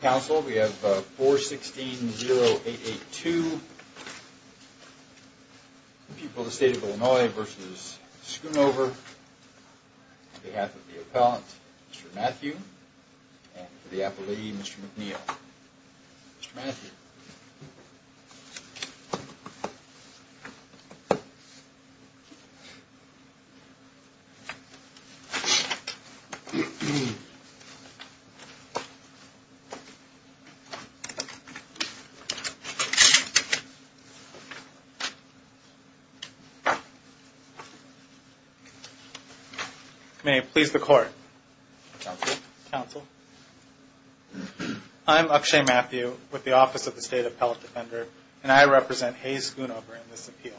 Council, we have 416-0882, the people of the state of Illinois v. Schoonover, on behalf of the appellant, Mr. Matthew, and for the appellee, Mr. McNeil. Mr. Matthew. May it please the court. I'm Akshay Matthew with the Office of the State Appellate Defender, and I represent Hayes Schoonover in this appeal.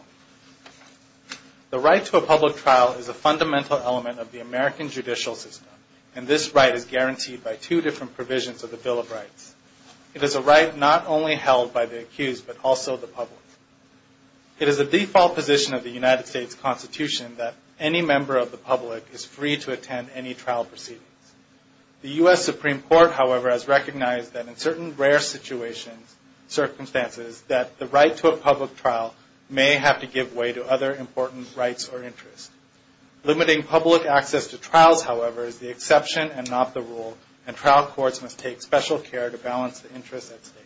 The right to a public trial is a fundamental element of the American judicial system, and this right is guaranteed by two different provisions of the Bill of Rights. It is a right not only held by the accused, but also the public. It is a default position of the United States Constitution that any member of the public is free to attend any trial proceedings. The U.S. Supreme Court, however, has recognized that in certain rare circumstances that the right to a public trial may have to give way to other important rights or interests. Limiting public access to trials, however, is the exception and not the rule, and trial courts must take special care to balance the interests at stake.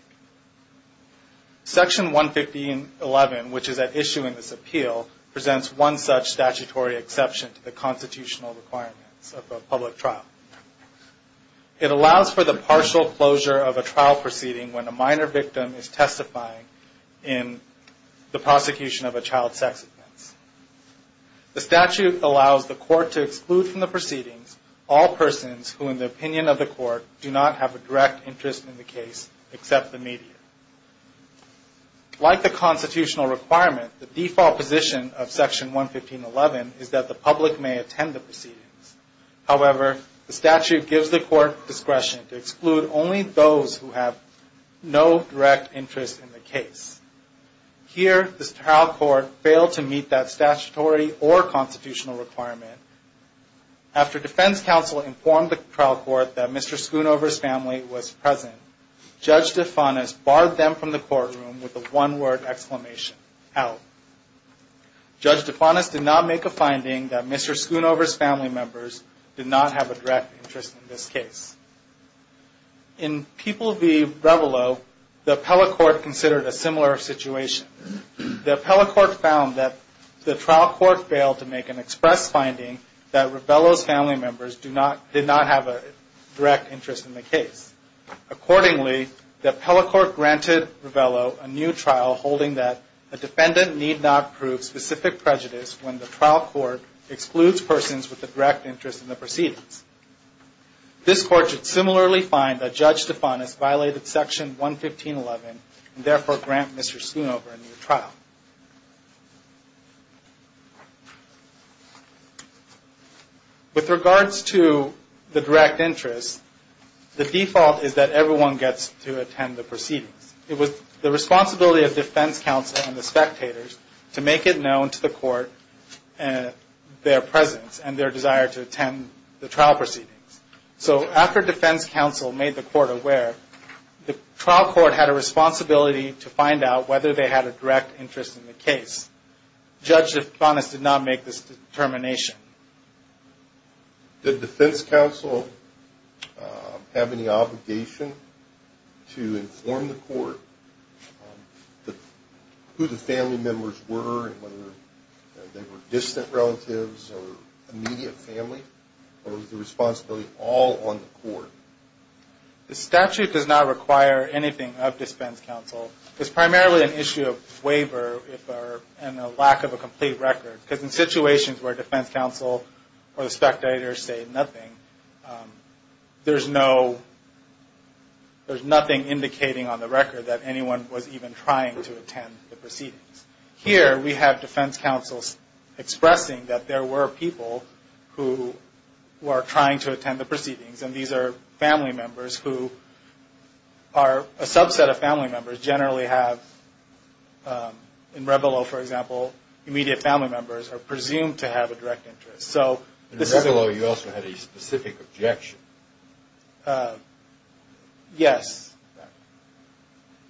Section 115.11, which is at issue in this appeal, presents one such statutory exception to the constitutional requirements of a public trial. It allows for the partial closure of a trial proceeding when a minor victim is testifying in the prosecution of a child's sex offense. The statute allows the court to exclude from the proceedings all persons who, in the opinion of the court, do not have a direct interest in the case except the media. Like the constitutional requirement, the default position of Section 115.11 is that the public may attend the proceedings. However, the statute gives the court discretion to exclude only those who have no direct interest in the case. Here, the trial court failed to meet that statutory or constitutional requirement. After defense counsel informed the trial court that Mr. Schoonover's family was present, Judge DeFanis barred them from the courtroom with a one-word exclamation, Out. Judge DeFanis did not make a finding that Mr. Schoonover's family members did not have a direct interest in this case. In People v. Revello, the appellate court considered a similar situation. The appellate court found that the trial court failed to make an express finding that Revello's family members did not have a direct interest in the case. Accordingly, the appellate court granted Revello a new trial holding that a defendant need not prove specific prejudice when the trial court excludes persons with a direct interest in the proceedings. This court should similarly find that Judge DeFanis violated Section 115.11 and therefore grant Mr. Schoonover a new trial. With regards to the direct interest, the default is that everyone gets to attend the proceedings. It was the responsibility of defense counsel and the spectators to make it known to the court their presence and their desire to attend the trial proceedings. So after defense counsel made the court aware, the trial court had a responsibility to find out whether they had a direct interest in the case. Judge DeFanis did not make this determination. Did defense counsel have any obligation to inform the court who the family members were and whether they were distant relatives or immediate family? Or was the responsibility all on the court? The statute does not require anything of defense counsel. It's primarily an issue of waiver and a lack of a complete record. Because in situations where defense counsel or the spectators say nothing, there's nothing indicating on the record that anyone was even trying to attend the proceedings. Here we have defense counsel expressing that there were people who were trying to attend the proceedings. And these are family members who are a subset of family members, generally have, in Reveilleau, for example, immediate family members are presumed to have a direct interest. In Reveilleau, you also had a specific objection. Yes.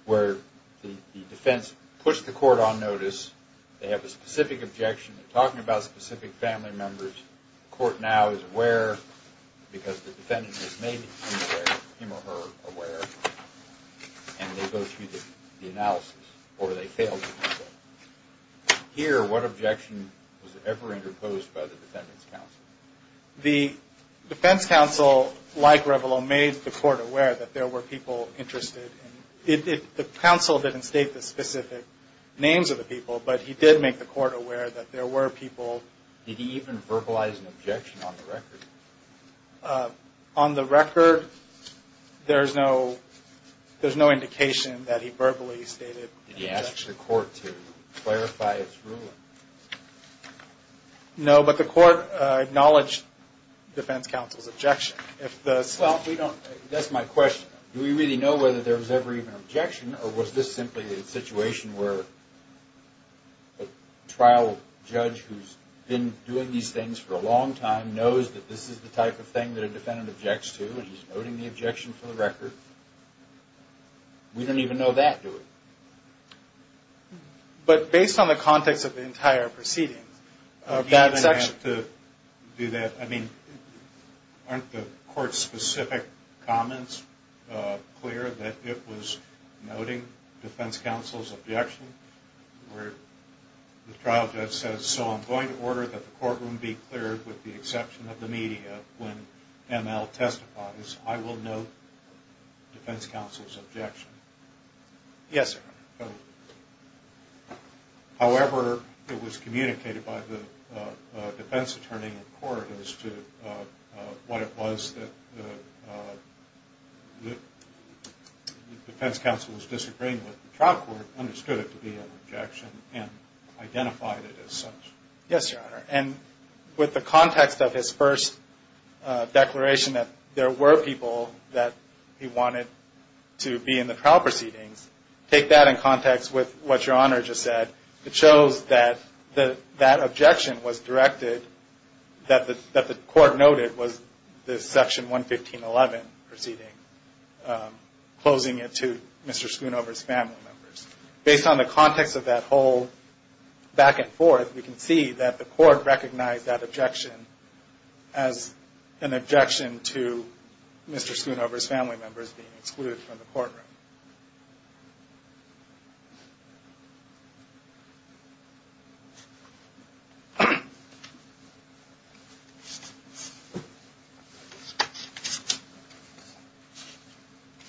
Where the defense pushed the court on notice. They have a specific objection. They're talking about specific family members. The court now is aware because the defendant has made him or her aware. And they go through the analysis. Or they failed to do so. Here, what objection was ever interposed by the defense counsel? The defense counsel, like Reveilleau, made the court aware that there were people interested. The counsel didn't state the specific names of the people, but he did make the court aware that there were people. Did he even verbalize an objection on the record? On the record, there's no indication that he verbally stated an objection. Did he ask the court to clarify its ruling? No, but the court acknowledged defense counsel's objection. That's my question. Do we really know whether there was ever even an objection, or was this simply a situation where a trial judge who's been doing these things for a long time knows that this is the type of thing that a defendant objects to, and he's noting the objection for the record? We don't even know that, do we? But based on the context of the entire proceedings, a bad section... Aren't the court's specific comments clear that it was noting defense counsel's objection, where the trial judge says, so I'm going to order that the courtroom be cleared with the exception of the media when ML testifies. I will note defense counsel's objection. Yes, sir. However, it was communicated by the defense attorney in court as to what it was that the defense counsel was disagreeing with, the trial court understood it to be an objection and identified it as such. Yes, Your Honor, and with the context of his first declaration that there were people that he wanted to be in the trial proceedings, take that in context with what Your Honor just said. It shows that that objection was directed, that the court noted was the Section 115.11 proceeding, closing it to Mr. Schoonover's family members. Based on the context of that whole back and forth, we can see that the court recognized that objection as an objection to Mr. Schoonover's family members being excluded from the courtroom.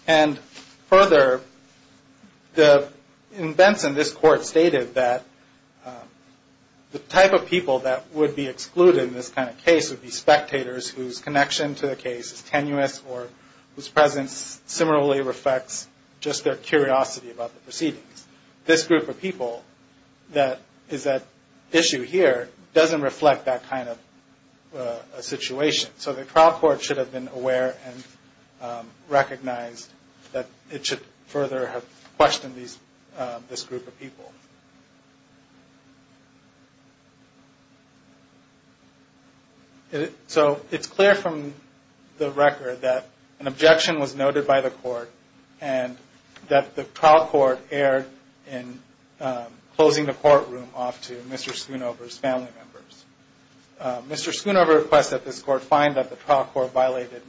And further, in Benson, this court stated that the type of people that would be excluded in this kind of case would be spectators whose connection to the case is tenuous or whose presence similarly reflects just their curiosity about the proceedings. This group of people that is at issue here doesn't reflect that kind of situation. So the trial court should have been aware and recognized that it should further have questioned this group of people. So it's clear from the record that an objection was noted by the court and that the trial court erred in closing the courtroom off to Mr. Schoonover's family members. Mr. Schoonover requests that this court find that the trial court violated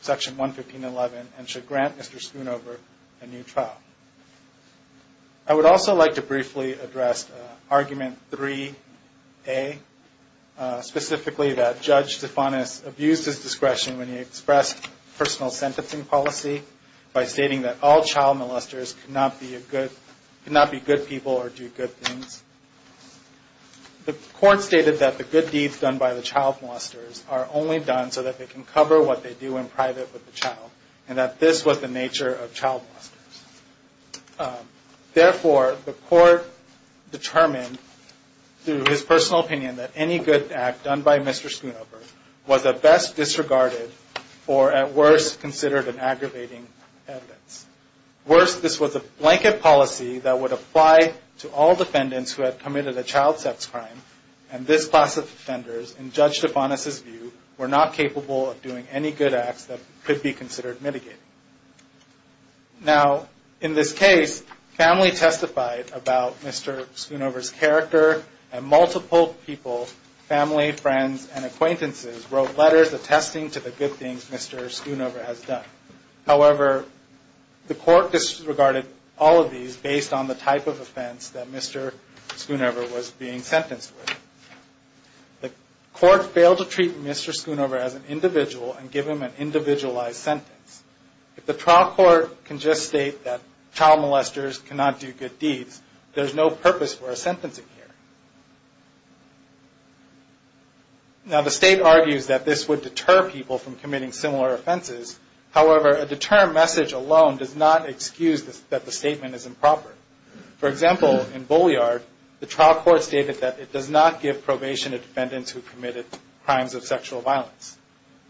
Section 115.11 and should grant Mr. Schoonover a new trial. I would also like to briefly address Argument 3A, specifically that Judge Stefanis abused his discretion when he expressed personal sentencing policy by stating that all child molesters cannot be good people or do good things. The court stated that the good deeds done by the child molesters are only done so that they can cover what they do in private with the child and that this was the nature of child molesters. Therefore, the court determined through his personal opinion that any good act done by Mr. Schoonover was at best disregarded or at worst considered an aggravating evidence. Worst, this was a blanket policy that would apply to all defendants who had committed a child sex crime and this class of offenders, in Judge Stefanis' view, were not capable of doing any good acts that could be considered mitigating. Now, in this case, family testified about Mr. Schoonover's character and multiple people, family, friends, and acquaintances wrote letters attesting to the good things Mr. Schoonover has done. However, the court disregarded all of these based on the type of offense that Mr. Schoonover was being sentenced with. The court failed to treat Mr. Schoonover as an individual and give him an individualized sentence. If the trial court can just state that child molesters cannot do good deeds, there's no purpose for a sentencing here. Now, the state argues that this would deter people from committing similar offenses. However, a deterrent message alone does not excuse that the statement is improper. For example, in Bolliard, the trial court stated that it does not give probation to defendants who committed crimes of sexual violence.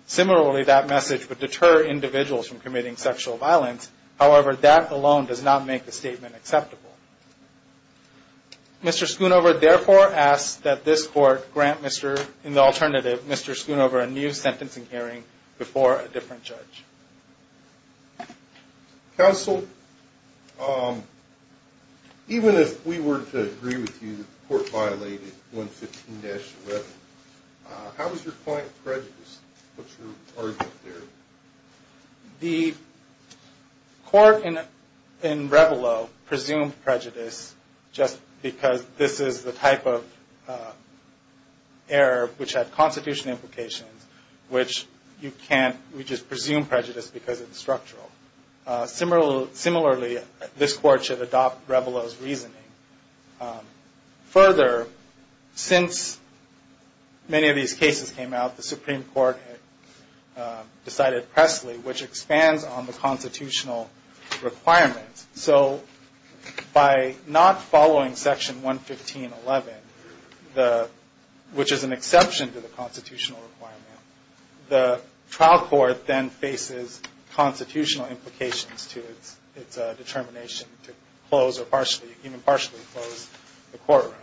Similarly, that message would deter individuals from committing sexual violence. However, that alone does not make the statement acceptable. Mr. Schoonover therefore asks that this court grant Mr. in the alternative, Mr. Schoonover a new sentencing hearing before a different judge. Counsel, even if we were to agree with you that the court violated 115-11, how is your point of prejudice? What's your argument there? The court in Revelo presumed prejudice just because this is the type of error which had constitutional implications, which you can't just presume prejudice because it's structural. Similarly, this court should adopt Revelo's reasoning. Further, since many of these cases came out, the Supreme Court decided pressly, which expands on the constitutional requirements. So by not following section 115-11, which is an exception to the constitutional requirement, the trial court then faces constitutional implications to its determination to close or even partially close the courtroom.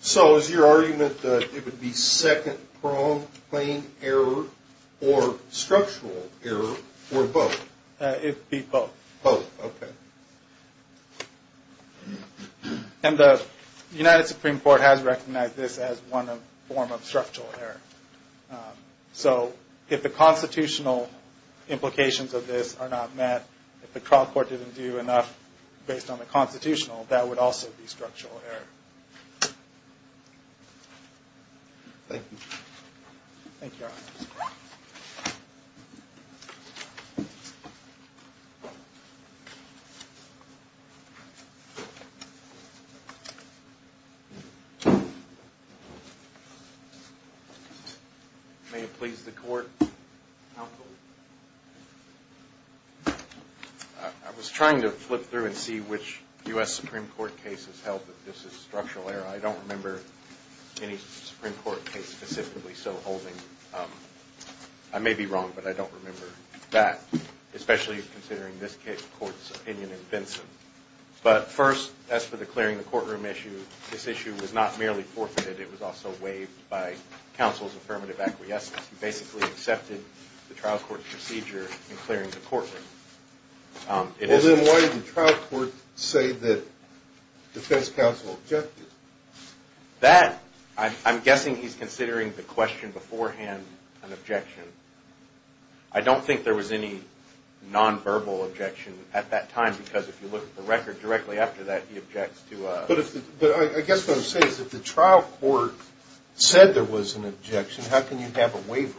So is your argument that it would be second-pronged plain error or structural error or both? It would be both. Both, okay. And the United Supreme Court has recognized this as one form of structural error. So if the constitutional implications of this are not met, if the trial court didn't do enough based on the constitutional, that would also be structural error. Thank you. Thank you, Your Honor. May it please the Court. Counsel. I was trying to flip through and see which U.S. Supreme Court cases held that this is structural error. I don't remember any Supreme Court case specifically so holding. I may be wrong, but I don't remember that, especially considering this Court's opinion in Benson. But first, as for the clearing the courtroom issue, this issue was not merely forfeited. It was also waived by counsel's affirmative acquiescence. He basically accepted the trial court's procedure in clearing the courtroom. Well, then why did the trial court say that defense counsel objected? That, I'm guessing he's considering the question beforehand an objection. I don't think there was any nonverbal objection at that time, because if you look at the record directly after that, he objects to a – But I guess what I'm saying is if the trial court said there was an objection, how can you have a waiver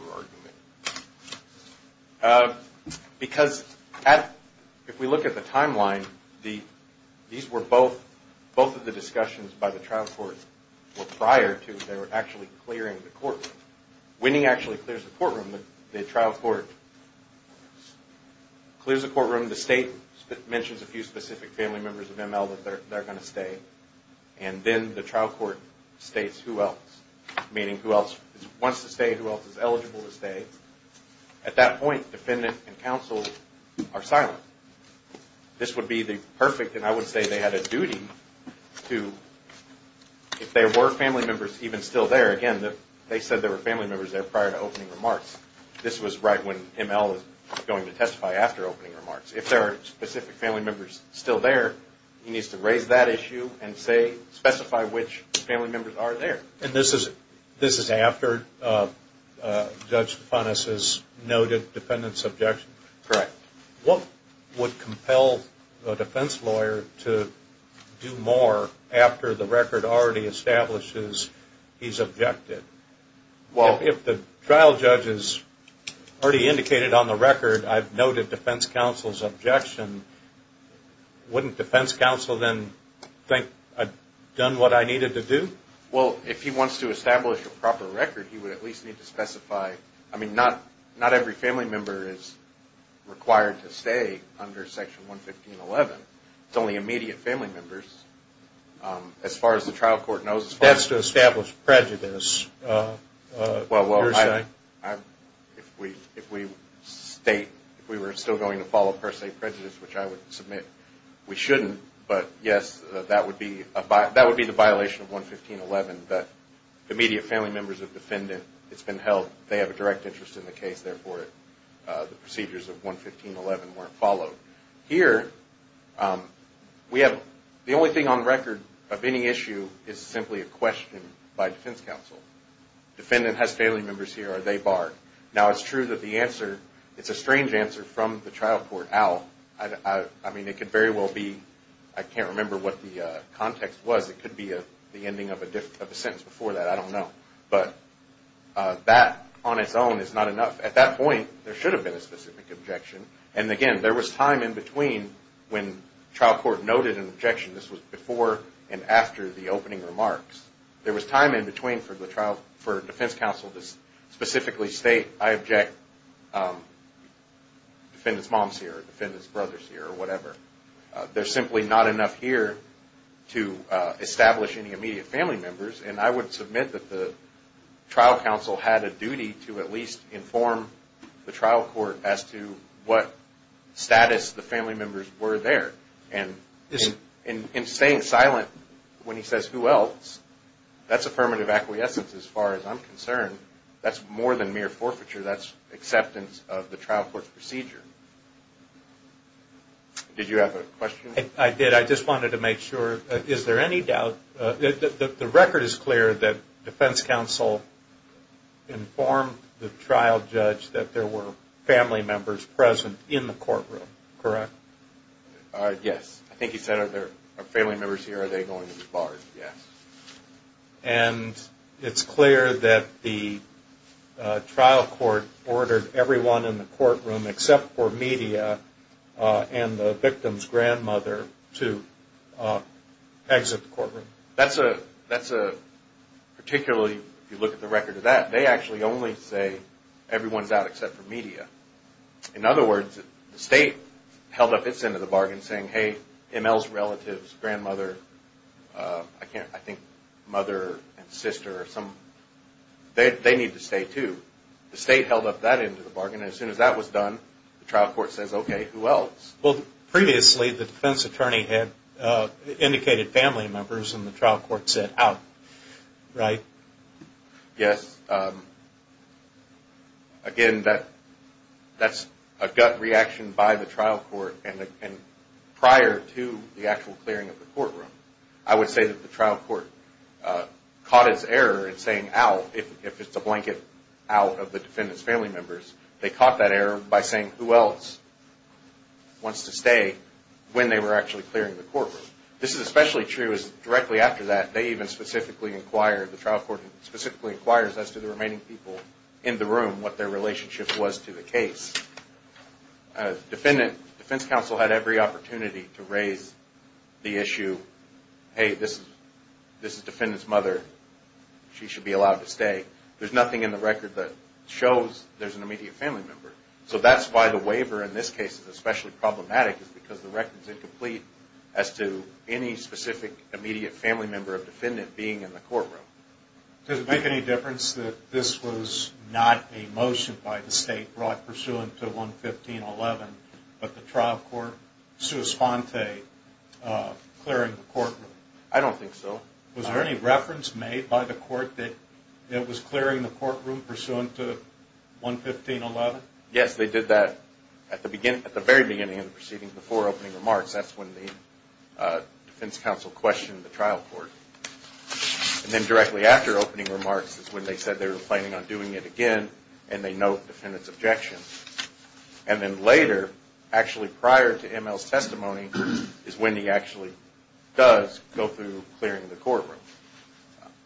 argument? Because if we look at the timeline, these were both – both of the discussions by the trial court were prior to they were actually clearing the courtroom. Winning actually clears the courtroom. The trial court clears the courtroom. The state mentions a few specific family members of ML that they're going to stay. And then the trial court states who else, meaning who else wants to stay, who else is eligible to stay. At that point, defendant and counsel are silent. This would be the perfect – and I would say they had a duty to – if there were family members even still there – again, they said there were family members there prior to opening remarks. This was right when ML was going to testify after opening remarks. If there are specific family members still there, he needs to raise that issue and specify which family members are there. And this is after Judge Funness's noted defendant's objection? Correct. What would compel a defense lawyer to do more after the record already establishes he's objected? Well – If the trial judge has already indicated on the record I've noted defense counsel's objection, wouldn't defense counsel then think I'd done what I needed to do? Well, if he wants to establish a proper record, he would at least need to specify – I mean, not every family member is required to stay under Section 115.11. It's only immediate family members. As far as the trial court knows – That's to establish prejudice, you're saying? Well, if we state – if we were still going to follow per se prejudice, which I would submit we shouldn't, but yes, that would be the violation of 115.11, that immediate family members of defendant, it's been held they have a direct interest in the case, therefore the procedures of 115.11 weren't followed. Here, we have – the only thing on record of any issue is simply a question by defense counsel. Defendant has family members here, are they barred? Now, it's true that the answer – it's a strange answer from the trial court. I mean, it could very well be – I can't remember what the context was. It could be the ending of a sentence before that, I don't know. But that on its own is not enough. At that point, there should have been a specific objection. And again, there was time in between when trial court noted an objection. This was before and after the opening remarks. There was time in between for the trial – for defense counsel to specifically state, I object, defendant's mom's here, defendant's brother's here, or whatever. There's simply not enough here to establish any immediate family members. And I would submit that the trial counsel had a duty to at least inform the trial court as to what status the family members were there. And in staying silent when he says, who else, that's affirmative acquiescence as far as I'm concerned. That's more than mere forfeiture. That's acceptance of the trial court's procedure. Did you have a question? I did. I just wanted to make sure. Is there any doubt – the record is clear that defense counsel informed the trial judge that there were family members present in the courtroom, correct? Yes. I think he said, are family members here, are they going to be barred? Yes. And it's clear that the trial court ordered everyone in the courtroom except for media and the victim's grandmother to exit the courtroom. That's a – particularly if you look at the record of that, they actually only say everyone's out except for media. In other words, the state held up its end of the bargain saying, hey, M.L.'s relatives, grandmother, I think mother and sister, they need to stay too. The state held up that end of the bargain, and as soon as that was done, the trial court says, okay, who else? Well, previously the defense attorney had indicated family members, and the trial court said out, right? Yes. Again, that's a gut reaction by the trial court, and prior to the actual clearing of the courtroom, I would say that the trial court caught its error in saying out, if it's a blanket out of the defendant's family members. They caught that error by saying who else wants to stay when they were actually clearing the courtroom. This is especially true directly after that. They even specifically inquire – the trial court specifically inquires as to the remaining people in the room what their relationship was to the case. The defense counsel had every opportunity to raise the issue, hey, this is defendant's mother. She should be allowed to stay. There's nothing in the record that shows there's an immediate family member. So that's why the waiver in this case is especially problematic is because the record is incomplete as to any specific immediate family member of defendant being in the courtroom. Does it make any difference that this was not a motion by the state brought pursuant to 115.11, but the trial court, sua sponte, clearing the courtroom? I don't think so. Was there any reference made by the court that it was clearing the courtroom pursuant to 115.11? Yes, they did that at the very beginning of the proceedings, before opening remarks. That's when the defense counsel questioned the trial court. And then directly after opening remarks is when they said they were planning on doing it again, and they note defendant's objection. And then later, actually prior to ML's testimony, is when he actually does go through clearing the courtroom.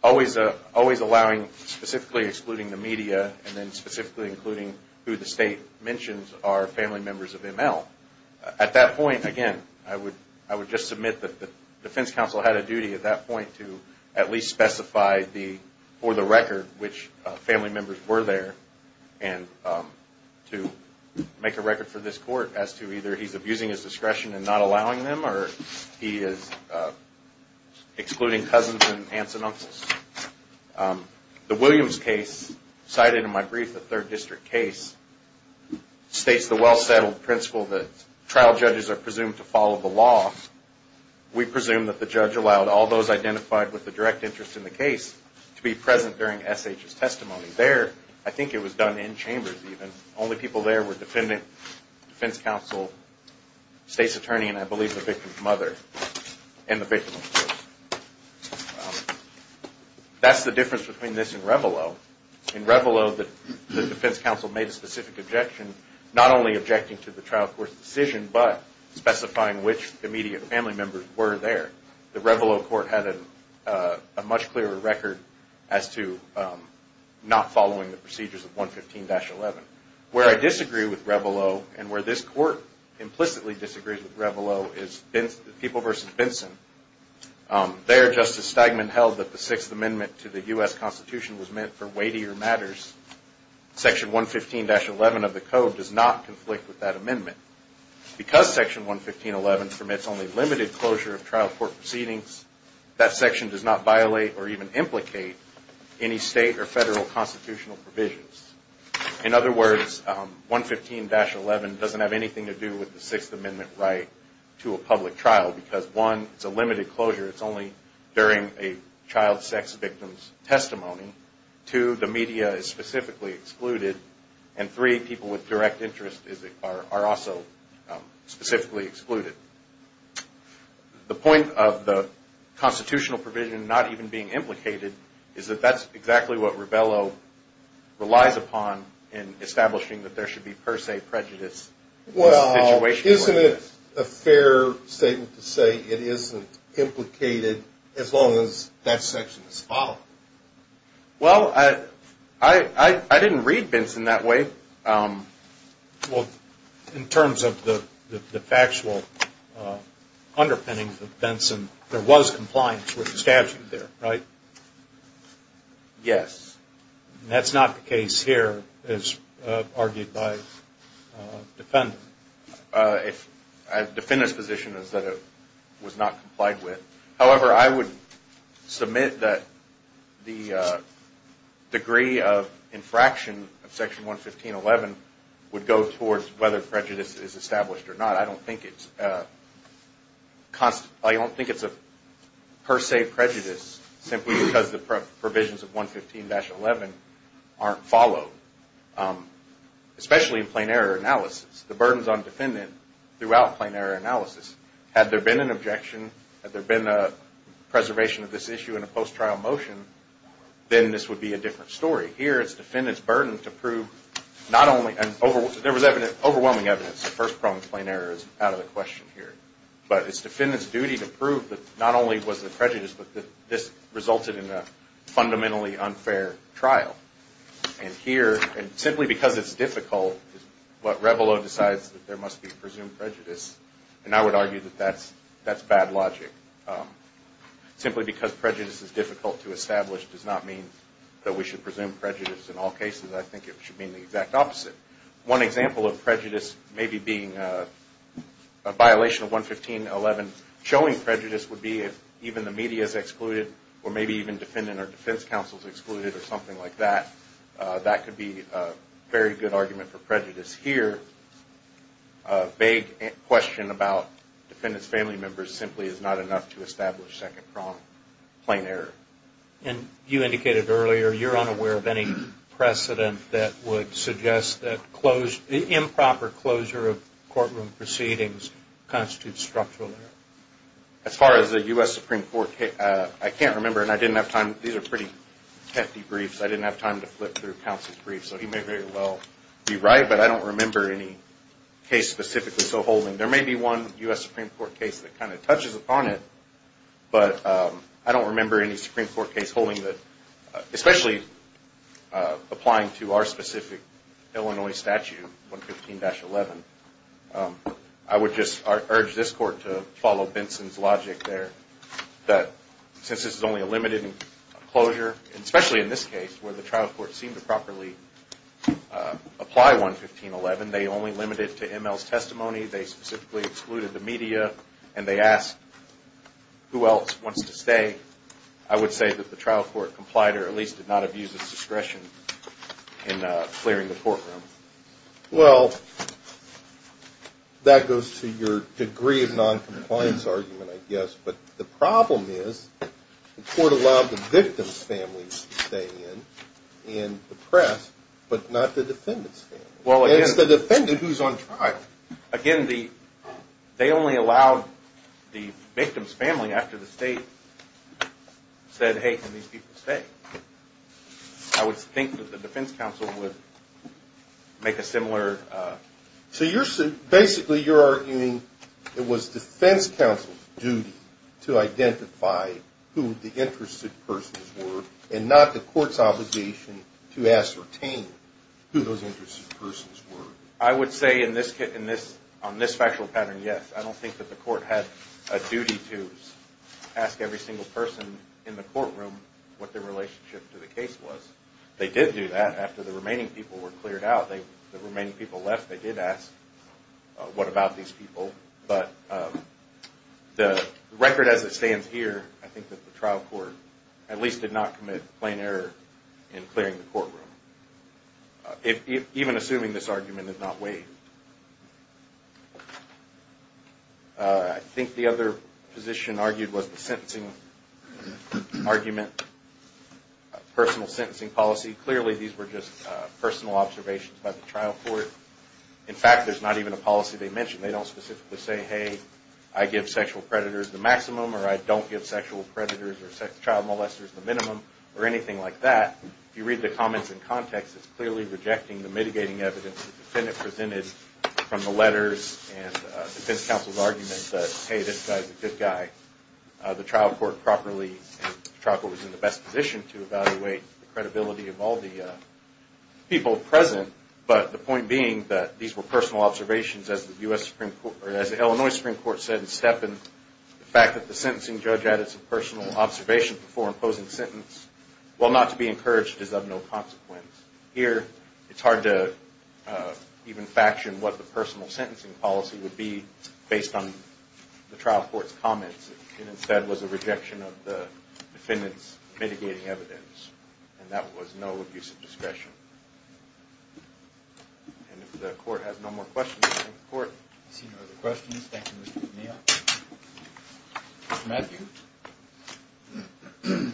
Always allowing, specifically excluding the media, and then specifically including who the state mentions are family members of ML. At that point, again, I would just submit that the defense counsel had a duty at that point to at least specify for the record which family members were there and to make a record for this court as to either he's abusing his discretion and not allowing them, or he is excluding cousins and aunts and uncles. The Williams case, cited in my brief, the third district case, states the well-settled principle that trial judges are presumed to follow the law. We presume that the judge allowed all those identified with a direct interest in the case to be present during SH's testimony. There, I think it was done in chambers even. Only people there were defendant, defense counsel, state's attorney, and I believe the victim's mother. That's the difference between this and Reveilleau. In Reveilleau, the defense counsel made a specific objection, not only objecting to the trial court's decision, but specifying which immediate family members were there. The Reveilleau court had a much clearer record as to not following the procedures of 115-11. Where I disagree with Reveilleau and where this court implicitly disagrees with Reveilleau is People v. Benson. There, Justice Stegman held that the Sixth Amendment to the U.S. Constitution was meant for weightier matters. Section 115-11 of the code does not conflict with that amendment. Because Section 115-11 permits only limited closure of trial court proceedings, that section does not violate or even implicate any state or federal constitutional provisions. In other words, 115-11 doesn't have anything to do with the Sixth Amendment right to a public trial. Because one, it's a limited closure. It's only during a child sex victim's testimony. Two, the media is specifically excluded. And three, people with direct interest are also specifically excluded. The point of the constitutional provision not even being implicated is that that's exactly what Reveilleau relies upon in establishing that there should be per se prejudice. Well, isn't it a fair statement to say it isn't implicated as long as that section is followed? Well, I didn't read Benson that way. Well, in terms of the factual underpinnings of Benson, there was compliance with the statute there, right? Yes. That's not the case here, as argued by the defendant. The defendant's position is that it was not complied with. However, I would submit that the degree of infraction of Section 115-11 would go towards whether prejudice is established or not. I don't think it's a per se prejudice simply because the provisions of 115-11 aren't followed. Especially in plain error analysis. The burden is on the defendant throughout plain error analysis. Had there been an objection, had there been a preservation of this issue in a post-trial motion, then this would be a different story. Here, it's the defendant's burden to prove not only – there was overwhelming evidence that first-pronged plain error is out of the question here. But it's the defendant's duty to prove that not only was there prejudice, but that this resulted in a fundamentally unfair trial. And here, simply because it's difficult is what Reveilleau decides that there must be presumed prejudice. And I would argue that that's bad logic. Simply because prejudice is difficult to establish does not mean that we should presume prejudice in all cases. I think it should mean the exact opposite. One example of prejudice maybe being a violation of 115-11 showing prejudice would be if even the media is excluded, or maybe even defendant or defense counsel is excluded, or something like that. That could be a very good argument for prejudice here. A vague question about defendant's family members simply is not enough to establish second-pronged plain error. And you indicated earlier you're unaware of any precedent that would suggest that improper closure of courtroom proceedings constitutes structural error. As far as the U.S. Supreme Court – I can't remember, and I didn't have time – these are pretty hefty briefs. I didn't have time to flip through counsel's briefs. So he may very well be right, but I don't remember any case specifically so whole. And there may be one U.S. Supreme Court case that kind of touches upon it, but I don't remember any Supreme Court case holding that – especially applying to our specific Illinois statute, 115-11. I would just urge this Court to follow Benson's logic there, that since this is only a limited closure, and especially in this case where the trial court seemed to properly apply 115-11, they only limited it to M.L.'s testimony, they specifically excluded the media, and they asked who else wants to stay. I would say that the trial court complied or at least did not abuse its discretion in clearing the courtroom. Well, that goes to your degree of noncompliance argument, I guess. But the problem is the court allowed the victim's family to stay in the press, but not the defendant's family. It's the defendant who's on trial. Again, they only allowed the victim's family after the state said, hey, can these people stay? I would think that the defense counsel would make a similar – So basically you're arguing it was defense counsel's duty to identify who the interested persons were and not the court's obligation to ascertain who those interested persons were. I would say on this factual pattern, yes. I don't think that the court had a duty to ask every single person in the courtroom what their relationship to the case was. They did do that after the remaining people were cleared out. The remaining people left. They did ask what about these people. But the record as it stands here, I think that the trial court at least did not commit plain error in clearing the courtroom, even assuming this argument had not waived. I think the other position argued was the sentencing argument, personal sentencing policy. Clearly these were just personal observations by the trial court. In fact, there's not even a policy they mentioned. They don't specifically say, hey, I give sexual predators the maximum or I don't give sexual predators or child molesters the minimum or anything like that. If you read the comments in context, it's clearly rejecting the mitigating evidence the defendant presented from the letters and defense counsel's argument that, hey, this guy's a good guy. The trial court was in the best position to evaluate the credibility of all the people present, but the point being that these were personal observations, as the Illinois Supreme Court said in Steppen, the fact that the sentencing judge added some personal observations before imposing the sentence, while not to be encouraged, is of no consequence. Here it's hard to even faction what the personal sentencing policy would be based on the trial court's comments. It instead was a rejection of the defendant's mitigating evidence, and that was no abuse of discretion. And if the court has no more questions, thank the court. I see no other questions. Thank you, Mr. O'Neill. Mr. Matthews?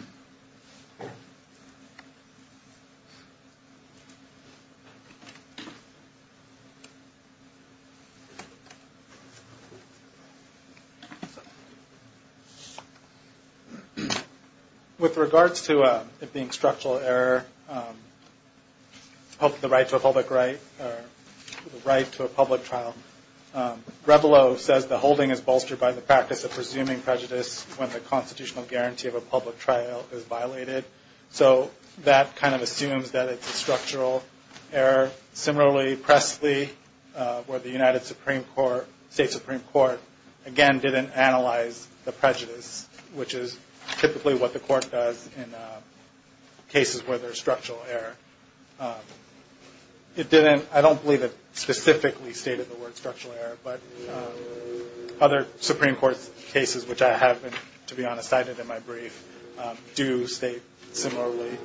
With regards to it being structural error of the right to a public right or the right to a public trial, Grebelo says the holding is bolstered by the practice of presuming prejudice when the constitutional guarantee of a public trial is violated. So that kind of assumes that it's a structural error. Similarly, Pressley, where the United States Supreme Court, again, didn't analyze the prejudice, which is typically what the court does in cases where there's structural error. I don't believe it specifically stated the word structural error, but other Supreme Court cases, which I have, to be honest, cited in my brief, do state similarly.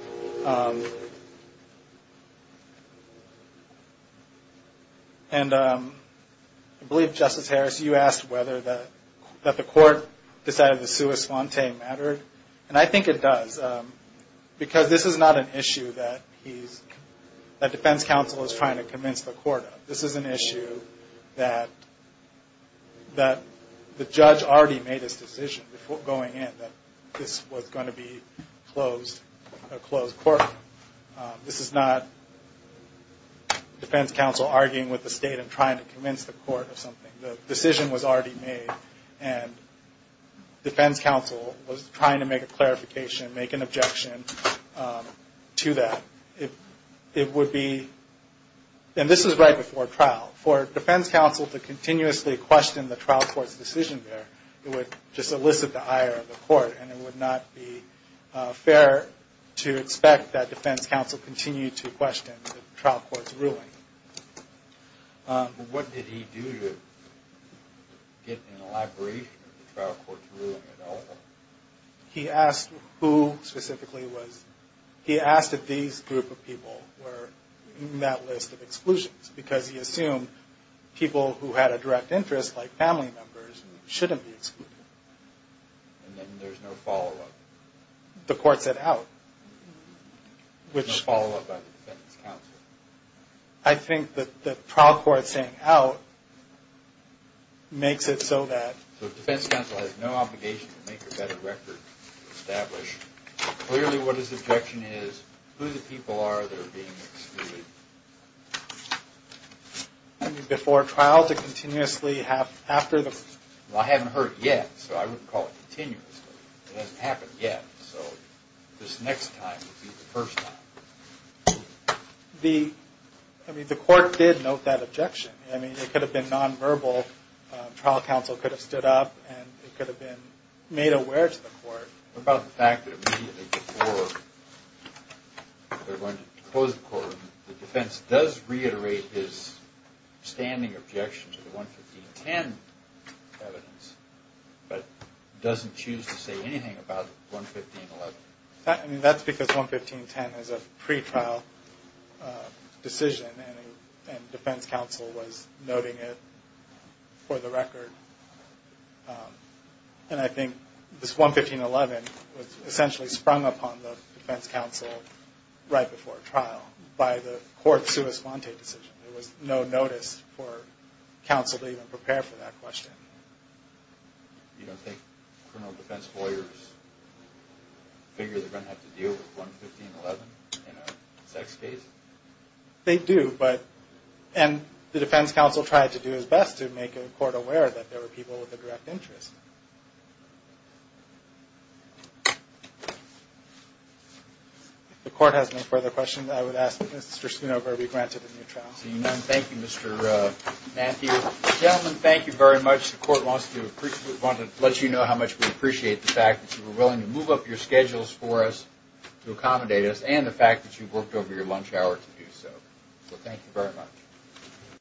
And I believe, Justice Harris, you asked whether the court decided the sua sponte mattered, and I think it does, because this is not an issue that defense counsel is trying to convince the court of. This is an issue that the judge already made his decision before going in that this was going to be a closed court. This is not defense counsel arguing with the state and trying to convince the court of something. The decision was already made, and defense counsel was trying to make a clarification, make an objection to that. It would be, and this is right before trial, for defense counsel to continuously question the trial court's decision there, it would just elicit the ire of the court, and it would not be fair to expect that defense counsel continue to question the trial court's ruling. But what did he do to get an elaboration of the trial court's ruling at all? He asked who specifically was, he asked if these group of people were in that list of exclusions, because he assumed people who had a direct interest, like family members, shouldn't be excluded. And then there's no follow-up? The court set out. There's no follow-up by the defense counsel? I think that the trial court setting out makes it so that defense counsel has no obligation to make a better record to establish clearly what his objection is, who the people are that are being excluded. Before trial to continuously have, after the, well I haven't heard it yet, so I wouldn't call it continuously. It hasn't happened yet, so this next time would be the first time. The, I mean, the court did note that objection. I mean, it could have been nonverbal. Trial counsel could have stood up, and it could have been made aware to the court. What about the fact that immediately before they're going to close the court, the defense does reiterate his standing objection to the 11510 evidence, but doesn't choose to say anything about 11511? I mean, that's because 11510 is a pretrial decision, and defense counsel was noting it for the record. And I think this 11511 was essentially sprung upon the defense counsel right before trial by the court's sua sponte decision. There was no notice for counsel to even prepare for that question. You don't think criminal defense lawyers figure they're going to have to deal with 11511 in a sex case? They do, but, and the defense counsel tried to do his best to make the court aware that there were people with a direct interest. If the court has no further questions, I would ask that Mr. Sunover be granted a new trial. Thank you, Mr. Mathew. Gentlemen, thank you very much. The court wants to let you know how much we appreciate the fact that you were willing to move up your schedules for us, to accommodate us, and the fact that you worked over your lunch hour to do so. So, thank you very much.